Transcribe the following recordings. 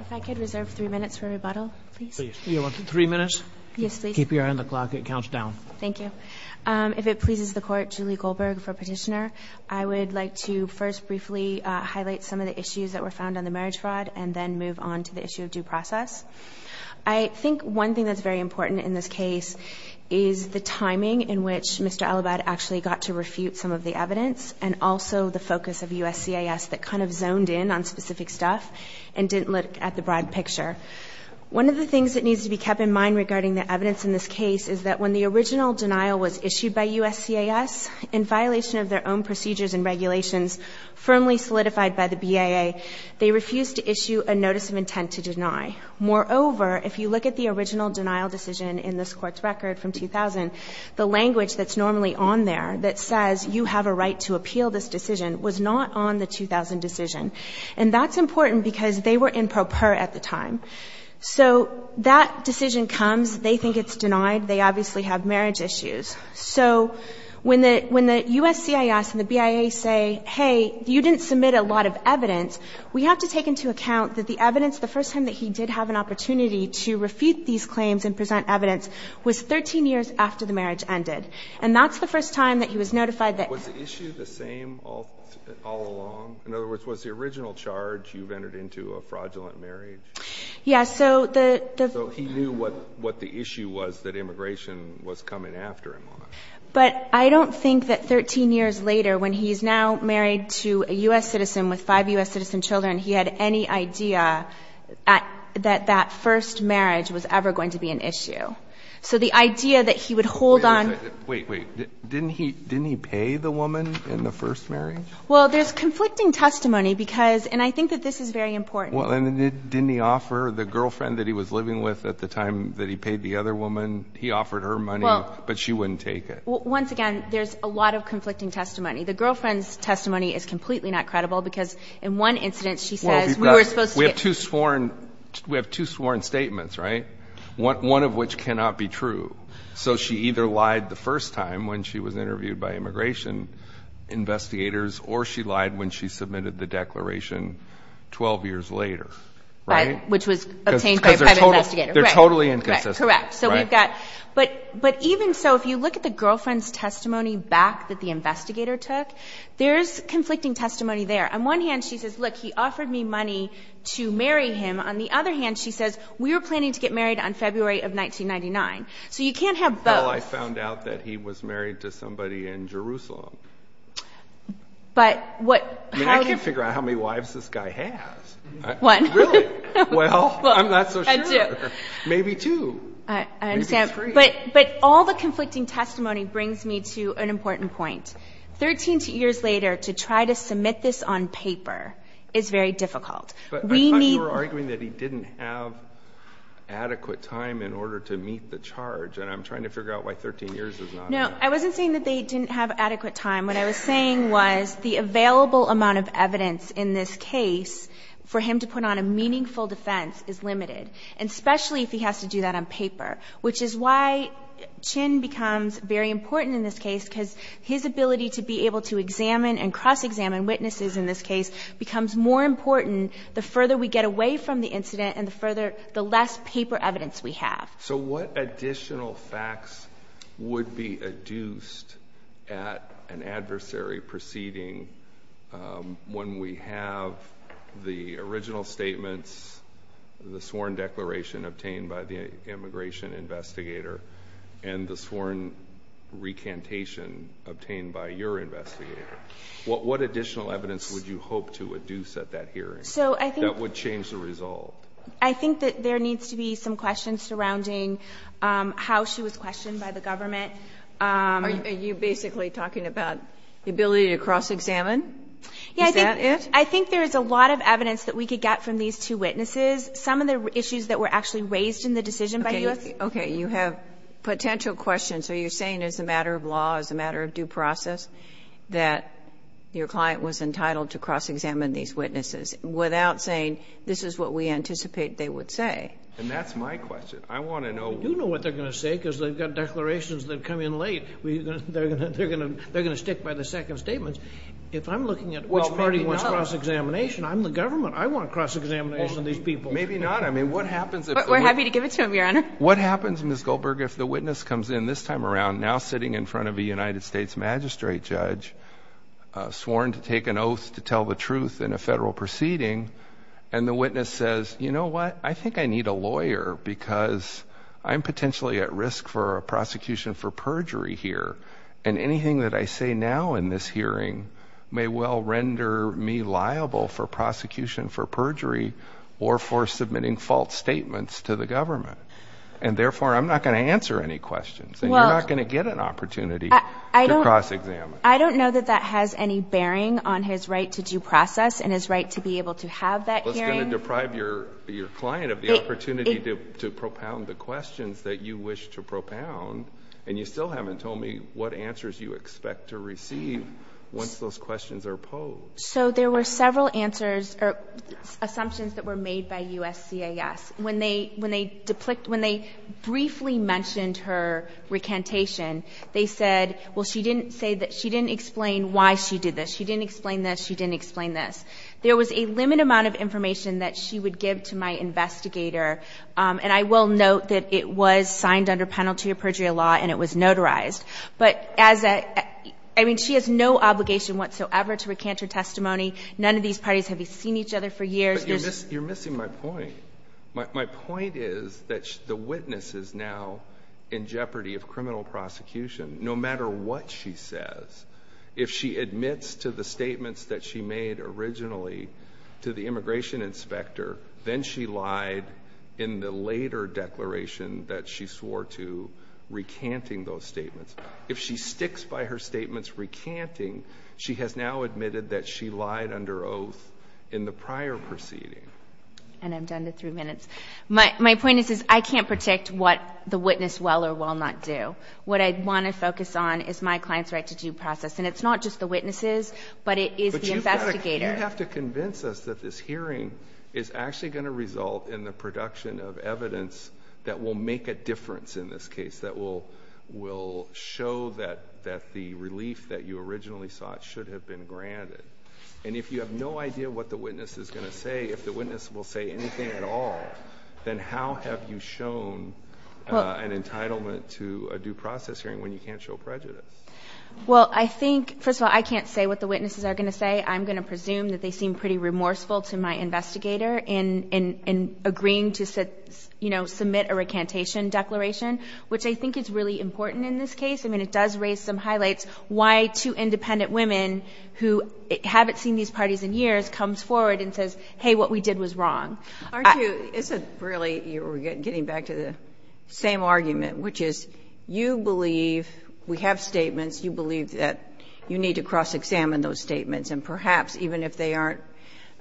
If I could reserve three minutes for rebuttal, please. You want three minutes? Yes, please. Keep your hand on the clock. It counts down. Thank you. If it pleases the Court, Julie Goldberg for petitioner. I would like to first briefly highlight some of the issues that were found on the marriage fraud and then move on to the issue of due process. I think one thing that's very important in this case is the timing in which Mr. Alabed actually got to refute some of the evidence and also the focus of USCIS that kind of zoned in on specific stuff and didn't look at the broad picture. One of the things that needs to be kept in mind regarding the evidence in this case is that when the original denial was issued by USCIS in violation of their own procedures and regulations firmly solidified by the BAA, they refused to issue a notice of intent to deny. Moreover, if you look at the original denial decision in this Court's record from 2000, the language that's normally on there that says you have a right to appeal this decision was not on the 2000 decision. And that's important because they were in pro per at the time. So that decision comes, they think it's denied, they obviously have marriage issues. So when the USCIS and the BAA say, hey, you didn't submit a lot of evidence, we have to take into account that the evidence, the first time that he did have an opportunity to refute these claims and present evidence was 13 years after the marriage ended. And that's the first time that he was notified that ---- Was the issue the same all along? In other words, was the original charge you've entered into a fraudulent marriage? Yes, so the ---- So he knew what the issue was that immigration was coming after him on it. But I don't think that 13 years later when he's now married to a U.S. citizen with five U.S. citizen children, he had any idea that that first marriage was ever going to be an issue. So the idea that he would hold on ---- Wait, wait. Didn't he pay the woman in the first marriage? Well, there's conflicting testimony because ---- and I think that this is very important. Well, and didn't he offer the girlfriend that he was living with at the time that he paid the other woman, he offered her money, but she wouldn't take it. Well, once again, there's a lot of conflicting testimony. The girlfriend's testimony is completely not credible because in one incident she says we were supposed to get ---- We have two sworn statements, right? One of which cannot be true. So she either lied the first time when she was interviewed by immigration investigators or she lied when she submitted the declaration 12 years later, right? Which was obtained by a private investigator. They're totally inconsistent. Correct. So we've got ---- but even so, if you look at the girlfriend's testimony back that the investigator took, there's conflicting testimony there. On one hand, she says, look, he offered me money to marry him. On the other hand, she says we were planning to get married on February of 1999. So you can't have both. Well, I found out that he was married to somebody in Jerusalem. But what ---- I mean, I can't figure out how many wives this guy has. One. Really? Well, I'm not so sure. And two. Maybe two. Maybe three. But all the conflicting testimony brings me to an important point. 13 years later, to try to submit this on paper is very difficult. We need ---- But I thought you were arguing that he didn't have adequate time in order to meet the charge. And I'm trying to figure out why 13 years is not enough. No. I wasn't saying that they didn't have adequate time. What I was saying was the available amount of evidence in this case for him to put on a meaningful defense is limited. And especially if he has to do that on paper. Which is why Chin becomes very important in this case, because his ability to be able to examine and cross-examine witnesses in this case becomes more important the further we get away from the incident and the less paper evidence we have. So what additional facts would be adduced at an adversary proceeding when we have the original statements, the sworn declaration obtained by the immigration investigator, and the sworn recantation obtained by your investigator? What additional evidence would you hope to adduce at that hearing that would change the result? I think that there needs to be some questions surrounding how she was questioned by the government. Are you basically talking about the ability to cross-examine? Is that it? I think there is a lot of evidence that we could get from these two witnesses. Some of the issues that were actually raised in the decision by U.S. Okay. You have potential questions. Are you saying as a matter of law, as a matter of due process, that your client was entitled to cross-examine these witnesses without saying this is what we anticipate they would say? And that's my question. I want to know. We do know what they're going to say because they've got declarations that come in late. They're going to stick by the second statement. If I'm looking at which party wants cross-examination, I'm the government. I want cross-examination of these people. Maybe not. I mean, what happens if the witness comes in this time around, now sitting in front of a United States magistrate judge, sworn to take an oath to tell the truth in a federal proceeding, and the witness says, you know what? I think I need a lawyer because I'm potentially at risk for a prosecution for perjury here. And anything that I say now in this hearing may well render me liable for prosecution for perjury or for submitting false statements to the government. And, therefore, I'm not going to answer any questions. And you're not going to get an opportunity to cross-examine. I don't know that that has any bearing on his right to due process and his right to be able to have that hearing. Well, it's going to deprive your client of the opportunity to propound the questions that you wish to propound. And you still haven't told me what answers you expect to receive once those questions are posed. So there were several answers or assumptions that were made by USCIS. When they briefly mentioned her recantation, they said, well, she didn't explain why she did this. She didn't explain this. She didn't explain this. There was a limited amount of information that she would give to my investigator, and I will note that it was signed under penalty of perjury law and it was notarized. But as a ‑‑ I mean, she has no obligation whatsoever to recant her testimony. None of these parties have seen each other for years. But you're missing my point. My point is that the witness is now in jeopardy of criminal prosecution. No matter what she says, if she admits to the statements that she made originally to the immigration inspector, then she lied in the later declaration that she swore to recanting those statements. If she sticks by her statements recanting, she has now admitted that she lied under oath in the prior proceeding. And I'm done in three minutes. My point is, I can't predict what the witness will or will not do. What I want to focus on is my client's right to due process. And it's not just the witnesses, but it is the investigator. You have to convince us that this hearing is actually going to result in the production of evidence that will make a difference in this case, that will show that the relief that you originally sought should have been granted. And if you have no idea what the witness is going to say, if the witness will say anything at all, then how have you shown an entitlement to a due process hearing when you can't show prejudice? Well, I think, first of all, I can't say what the witnesses are going to say. I'm going to presume that they seem pretty remorseful to my investigator in agreeing to, you know, submit a recantation declaration, which I think is really important in this case. I mean, it does raise some highlights why two independent women who haven't seen these parties in years comes forward and says, hey, what we did was wrong. Aren't you – isn't it really – you were getting back to the same argument, which is you believe we have statements, you believe that you need to cross-examine those statements, and perhaps, even if they aren't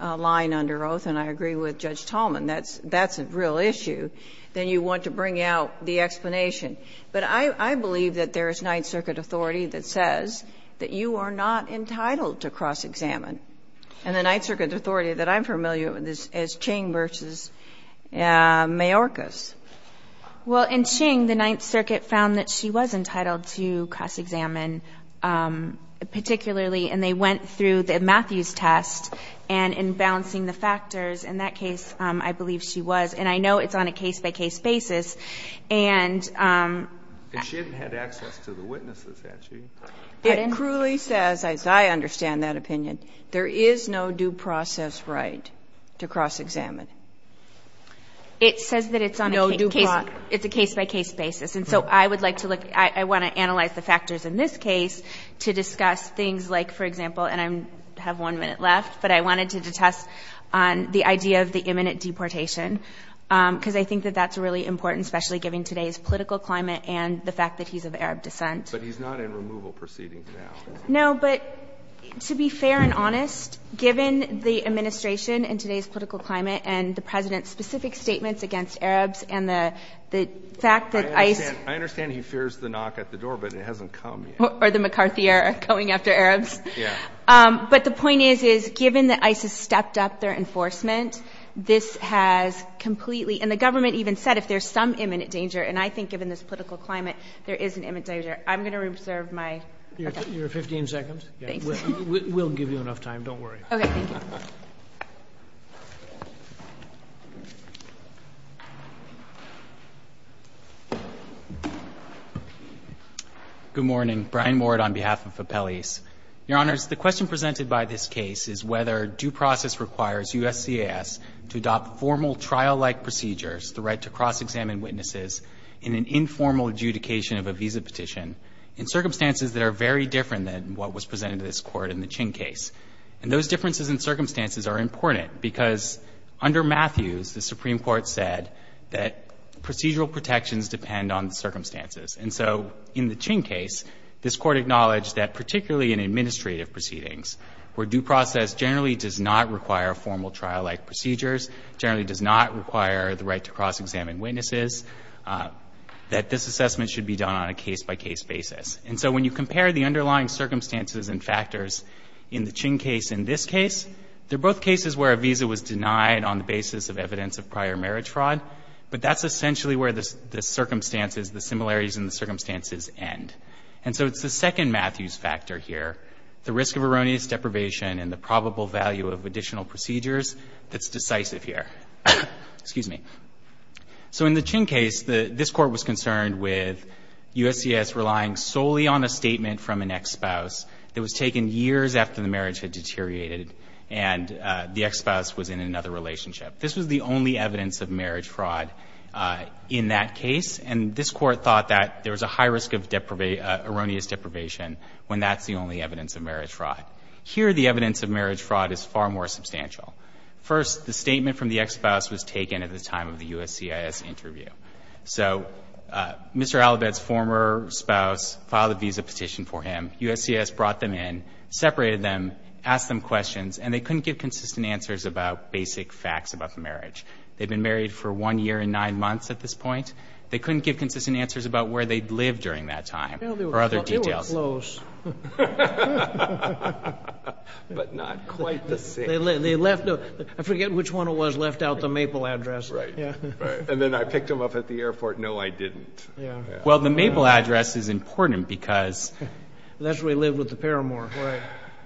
lying under oath, and I agree with Judge Tallman, that's a real issue, then you want to bring out the explanation. But I believe that there is Ninth Circuit authority that says that you are not entitled to cross-examine, and the Ninth Circuit authority that I'm familiar with is Ching v. Mayorkas. Well, in Ching, the Ninth Circuit found that she was entitled to cross-examine, particularly, and they went through the Matthews test, and in balancing the factors, in that case, I believe she was. And I know it's on a case-by-case basis, and – But she hadn't had access to the witnesses, had she? It cruelly says, as I understand that opinion, there is no due process right to cross-examine. It says that it's on a case-by-case basis. And so I would like to look – I want to analyze the factors in this case to discuss things like, for example, and I have one minute left, but I wanted to detest the idea of the imminent deportation, because I think that that's really important, especially given today's political climate and the fact that he's of Arab descent. But he's not in removal proceedings now. No, but to be fair and honest, given the administration and today's political climate and the President's specific statements against Arabs and the fact that ISIS – I understand he fears the knock at the door, but it hasn't come yet. Or the McCarthy era, going after Arabs. Yeah. But the point is, is given that ISIS stepped up their enforcement, this has completely – and the government even said if there's some imminent danger, and I think given this political climate, there is an imminent danger. I'm going to reserve my – Your 15 seconds. Thanks. We'll give you enough time. Don't worry. Okay. Good morning. Brian Moore on behalf of Appellees. Your Honors, the question presented by this case is whether due process requires USCIS to adopt formal trial-like procedures, the right to cross-examine witnesses in an informal adjudication of a visa petition in circumstances that are very different than what was presented to this Court in the Ching case. And those differences in circumstances are important because under Matthews, the Supreme Court said that procedural protections depend on the circumstances. And so in the Ching case, this Court acknowledged that particularly in administrative proceedings, where due process generally does not require formal trial-like procedures, generally does not require the right to cross-examine witnesses, that this assessment should be done on a case-by-case basis. And so when you compare the underlying circumstances and factors in the Ching case and this case, they're both cases where a visa was denied on the basis of evidence of prior marriage fraud. But that's essentially where the circumstances, the similarities in the circumstances end. And so it's the second Matthews factor here, the risk of erroneous deprivation and the probable value of additional procedures that's decisive here. Excuse me. So in the Ching case, this Court was concerned with USCIS relying solely on a statement from an ex-spouse that was taken years after the marriage had deteriorated and the ex-spouse was in another relationship. This was the only evidence of marriage fraud in that case, and this Court thought that there was a high risk of erroneous deprivation when that's the only evidence of marriage fraud. Here, the evidence of marriage fraud is far more substantial. First, the statement from the ex-spouse was taken at the time of the USCIS interview. So Mr. Allivette's former spouse filed a visa petition for him. USCIS brought them in, separated them, asked them questions, and they couldn't give consistent answers about basic facts about the marriage. They'd been married for one year and nine months at this point. They couldn't give consistent answers about where they'd lived during that time They were close. But not quite the same. I forget which one it was left out, the Maple address. Right. And then I picked them up at the airport. No, I didn't. Well, the Maple address is important because That's where he lived with the paramour.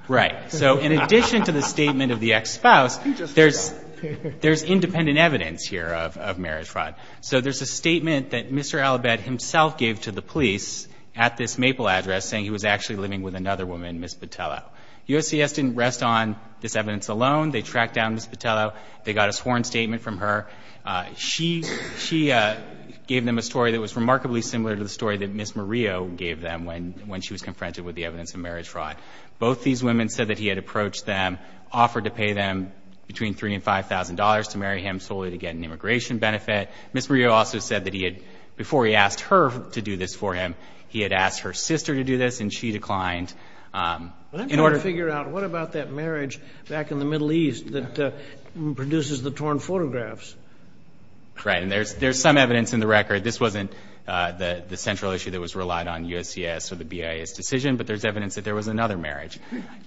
Right. So in addition to the statement of the ex-spouse, there's independent evidence here of marriage fraud. So there's a statement that Mr. Allivette himself gave to the police at this Maple address saying he was actually living with another woman, Ms. Botello. USCIS didn't rest on this evidence alone. They tracked down Ms. Botello. They got a sworn statement from her. She gave them a story that was remarkably similar to the story that Ms. Murillo gave them when she was confronted with the evidence of marriage fraud. Both these women said that he had approached them, offered to pay them between $3,000 and $5,000 to marry him solely to get an immigration benefit. Ms. Murillo also said that he had, before he asked her to do this for him, he had What about that marriage back in the Middle East that produces the torn photographs? Right. And there's some evidence in the record. This wasn't the central issue that was relied on USCIS or the BIA's decision, but there's evidence that there was another marriage.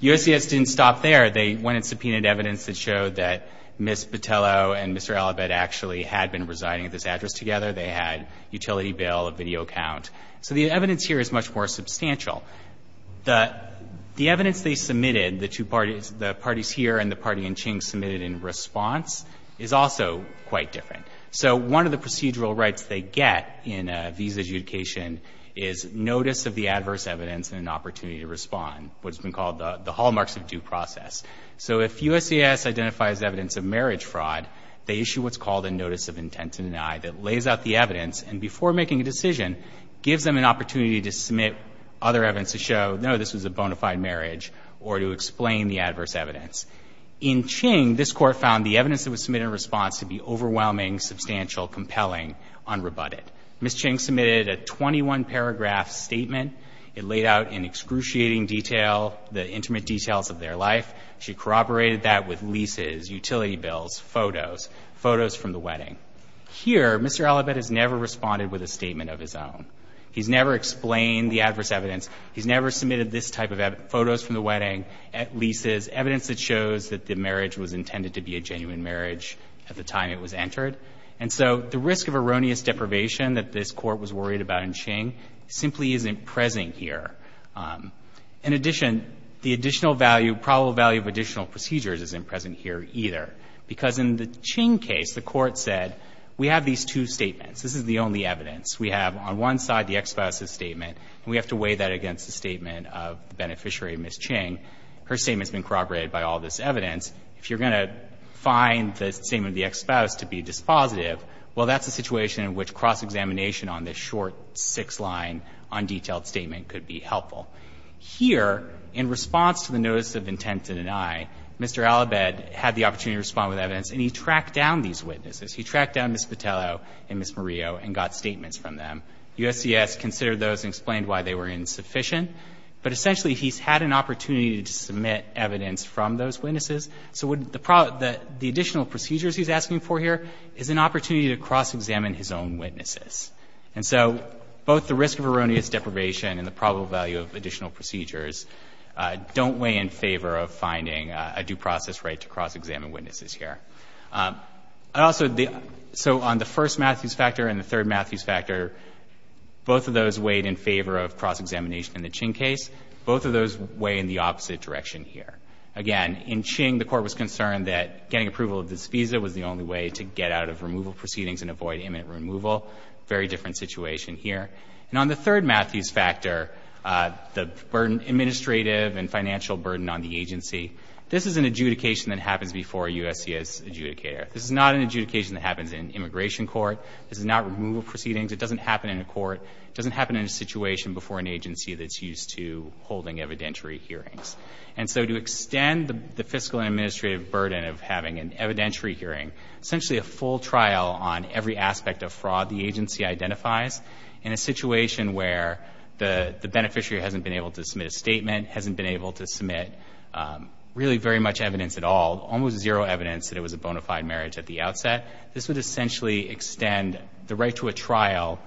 USCIS didn't stop there. They went and subpoenaed evidence that showed that Ms. Botello and Mr. Allivette actually had been residing at this address together. They had utility bill, a video account. So the evidence here is much more substantial. The evidence they submitted, the parties here and the party in Qing submitted in response is also quite different. So one of the procedural rights they get in a visa adjudication is notice of the adverse evidence and an opportunity to respond, what's been called the hallmarks of due process. So if USCIS identifies evidence of marriage fraud, they issue what's called a notice of intent to deny that lays out the evidence and, before making a decision, gives them an opportunity to submit other evidence to show, no, this was a bona fide marriage or to explain the adverse evidence. In Qing, this Court found the evidence that was submitted in response to be overwhelming, substantial, compelling, unrebutted. Ms. Qing submitted a 21-paragraph statement. It laid out in excruciating detail the intimate details of their life. She corroborated that with leases, utility bills, photos, photos from the wedding. Here, Mr. Allivette has never responded with a statement of his own. He's never explained the adverse evidence. He's never submitted this type of evidence, photos from the wedding, leases, evidence that shows that the marriage was intended to be a genuine marriage at the time it was entered. And so the risk of erroneous deprivation that this Court was worried about in Qing simply isn't present here. In addition, the additional value, probable value of additional procedures isn't present here either, because in the Qing case, the Court said, we have these two statements. This is the only evidence. We have on one side the ex-spouse's statement, and we have to weigh that against the statement of the beneficiary, Ms. Qing. Her statement's been corroborated by all this evidence. If you're going to find the statement of the ex-spouse to be dispositive, well, that's a situation in which cross-examination on this short six-line, undetailed statement could be helpful. Here, in response to the notice of intent to deny, Mr. Allivette had the opportunity to respond with evidence, and he tracked down these witnesses. He tracked down Ms. Patello and Ms. Murillo and got statements from them. USCS considered those and explained why they were insufficient. But essentially, he's had an opportunity to submit evidence from those witnesses. So the additional procedures he's asking for here is an opportunity to cross-examine his own witnesses. And so both the risk of erroneous deprivation and the probable value of additional procedures don't weigh in favor of finding a due process right to cross-examine witnesses here. Also, the — so on the first Matthews factor and the third Matthews factor, both of those weighed in favor of cross-examination in the Ching case. Both of those weigh in the opposite direction here. Again, in Ching, the Court was concerned that getting approval of this visa was the only way to get out of removal proceedings and avoid imminent removal. Very different situation here. And on the third Matthews factor, the burden — administrative and financial burden on the agency. This is an adjudication that happens before a USCS adjudicator. This is not an adjudication that happens in immigration court. This is not removal proceedings. It doesn't happen in a court. It doesn't happen in a situation before an agency that's used to holding evidentiary hearings. And so to extend the fiscal and administrative burden of having an evidentiary hearing, essentially a full trial on every aspect of fraud the agency identifies in a situation where the beneficiary hasn't been able to submit a statement, hasn't been able to submit really very much evidence at all, almost zero evidence that it was a bona fide marriage at the outset, this would essentially extend the right to a trial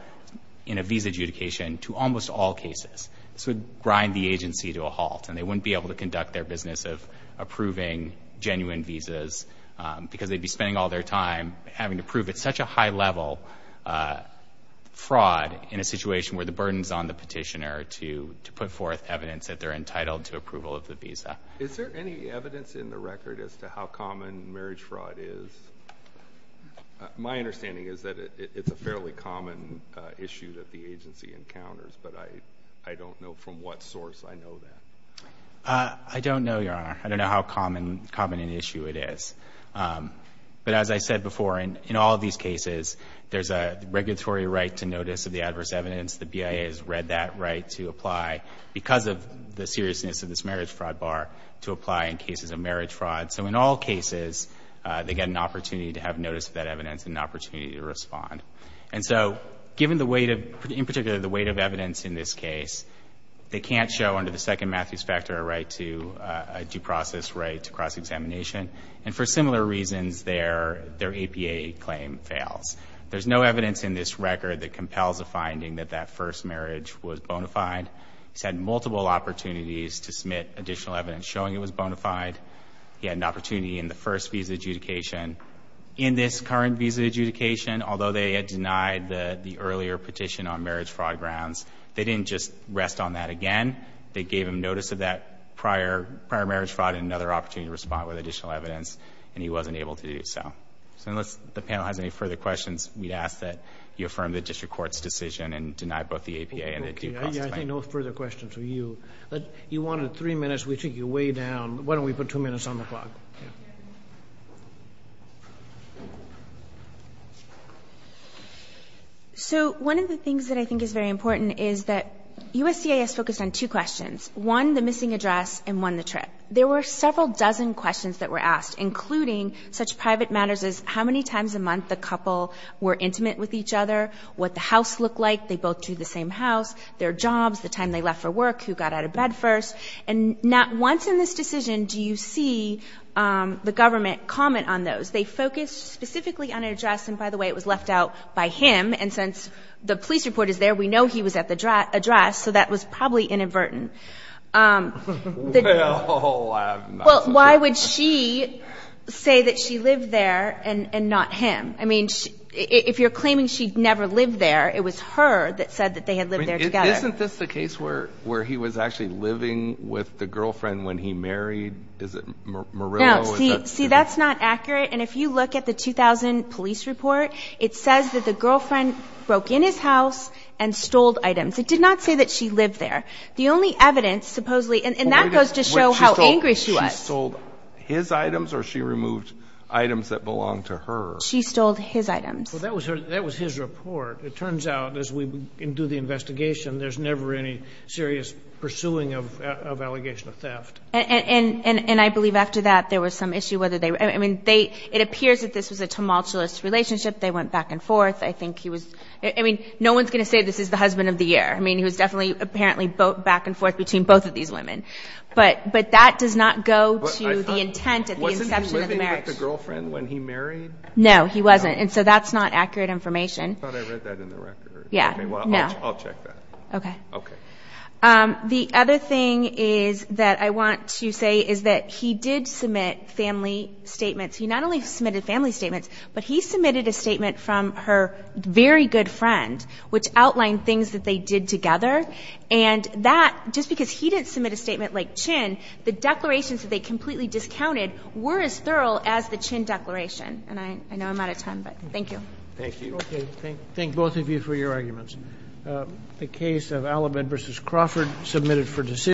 in a visa adjudication to almost all cases. This would grind the agency to a halt, and they wouldn't be able to conduct their business of approving genuine visas because they'd be spending all their time having to prove at such a high level fraud in a situation where the burden's on the petitioner to put forth evidence that they're entitled to approval of the visa. Is there any evidence in the record as to how common marriage fraud is? My understanding is that it's a fairly common issue that the agency encounters, but I don't know from what source I know that. I don't know, Your Honor. I don't know how common an issue it is. But as I said before, in all of these cases, there's a regulatory right to notice of the adverse evidence. The BIA has read that right to apply, because of the seriousness of this marriage fraud bar, to apply in cases of marriage fraud. So in all cases, they get an opportunity to have notice of that evidence and an opportunity to respond. And so given the weight of, in particular, the weight of evidence in this case, they can't show under the Second Matthews Factor a right to, a due process right to cross-examination. And for similar reasons, their APA claim fails. There's no evidence in this record that compels a finding that that first marriage was bona fide. He's had multiple opportunities to submit additional evidence showing it was bona fide. He had an opportunity in the first visa adjudication. In this current visa adjudication, although they had denied the earlier petition on marriage fraud grounds, they didn't just rest on that again. They gave him notice of that prior marriage fraud and another opportunity to respond with additional evidence, and he wasn't able to do so. So unless the panel has any further questions, we'd ask that you affirm the district court's decision and deny both the APA and the due process claim. I think no further questions for you. You wanted 3 minutes. We took you way down. Why don't we put 2 minutes on the clock? So one of the things that I think is very important is that USCIS focused on two questions. One, the missing address, and one, the trip. There were several dozen questions that were asked, including such private matters as how many times a month the couple were intimate with each other, what the house looked like, they both do the same house, their jobs, the time they left for work, who got out of bed first. And not once in this decision do you see the government comment on those. They focused specifically on an address, and by the way, it was left out by him, and since the police report is there, we know he was at the address, so that was probably inadvertent. Well, I'm not so sure. Well, why would she say that she lived there and not him? I mean, if you're claiming she never lived there, it was her that said that they had lived there together. Isn't this the case where he was actually living with the girlfriend when he married? Is it Murillo? No, see, that's not accurate, and if you look at the 2000 police report, it says that the girlfriend broke in his house and stole items. It did not say that she lived there. The only evidence, supposedly, and that goes to show how angry she was. She stole his items or she removed items that belonged to her? She stole his items. Well, that was his report. It turns out, as we do the investigation, there's never any serious pursuing of allegation of theft. And I believe after that, there was some issue whether they were. I mean, it appears that this was a tumultuous relationship. They went back and forth. I think he was. I mean, no one's going to say this is the husband of the year. I mean, he was definitely apparently back and forth between both of these women. But that does not go to the intent at the inception of the marriage. Wasn't he living with the girlfriend when he married? No, he wasn't. And so that's not accurate information. I thought I read that in the record. Yeah. Okay, well, I'll check that. Okay. Okay. The other thing is that I want to say is that he did submit family statements. He not only submitted family statements, but he submitted a statement from her very good friend, which outlined things that they did together. And that, just because he didn't submit a statement like Chinn, the declarations that they completely discounted were as thorough as the Chinn declaration. And I know I'm out of time, but thank you. Thank you. Okay. Thank both of you for your arguments. The case of Alamed v. Crawford submitted for decision.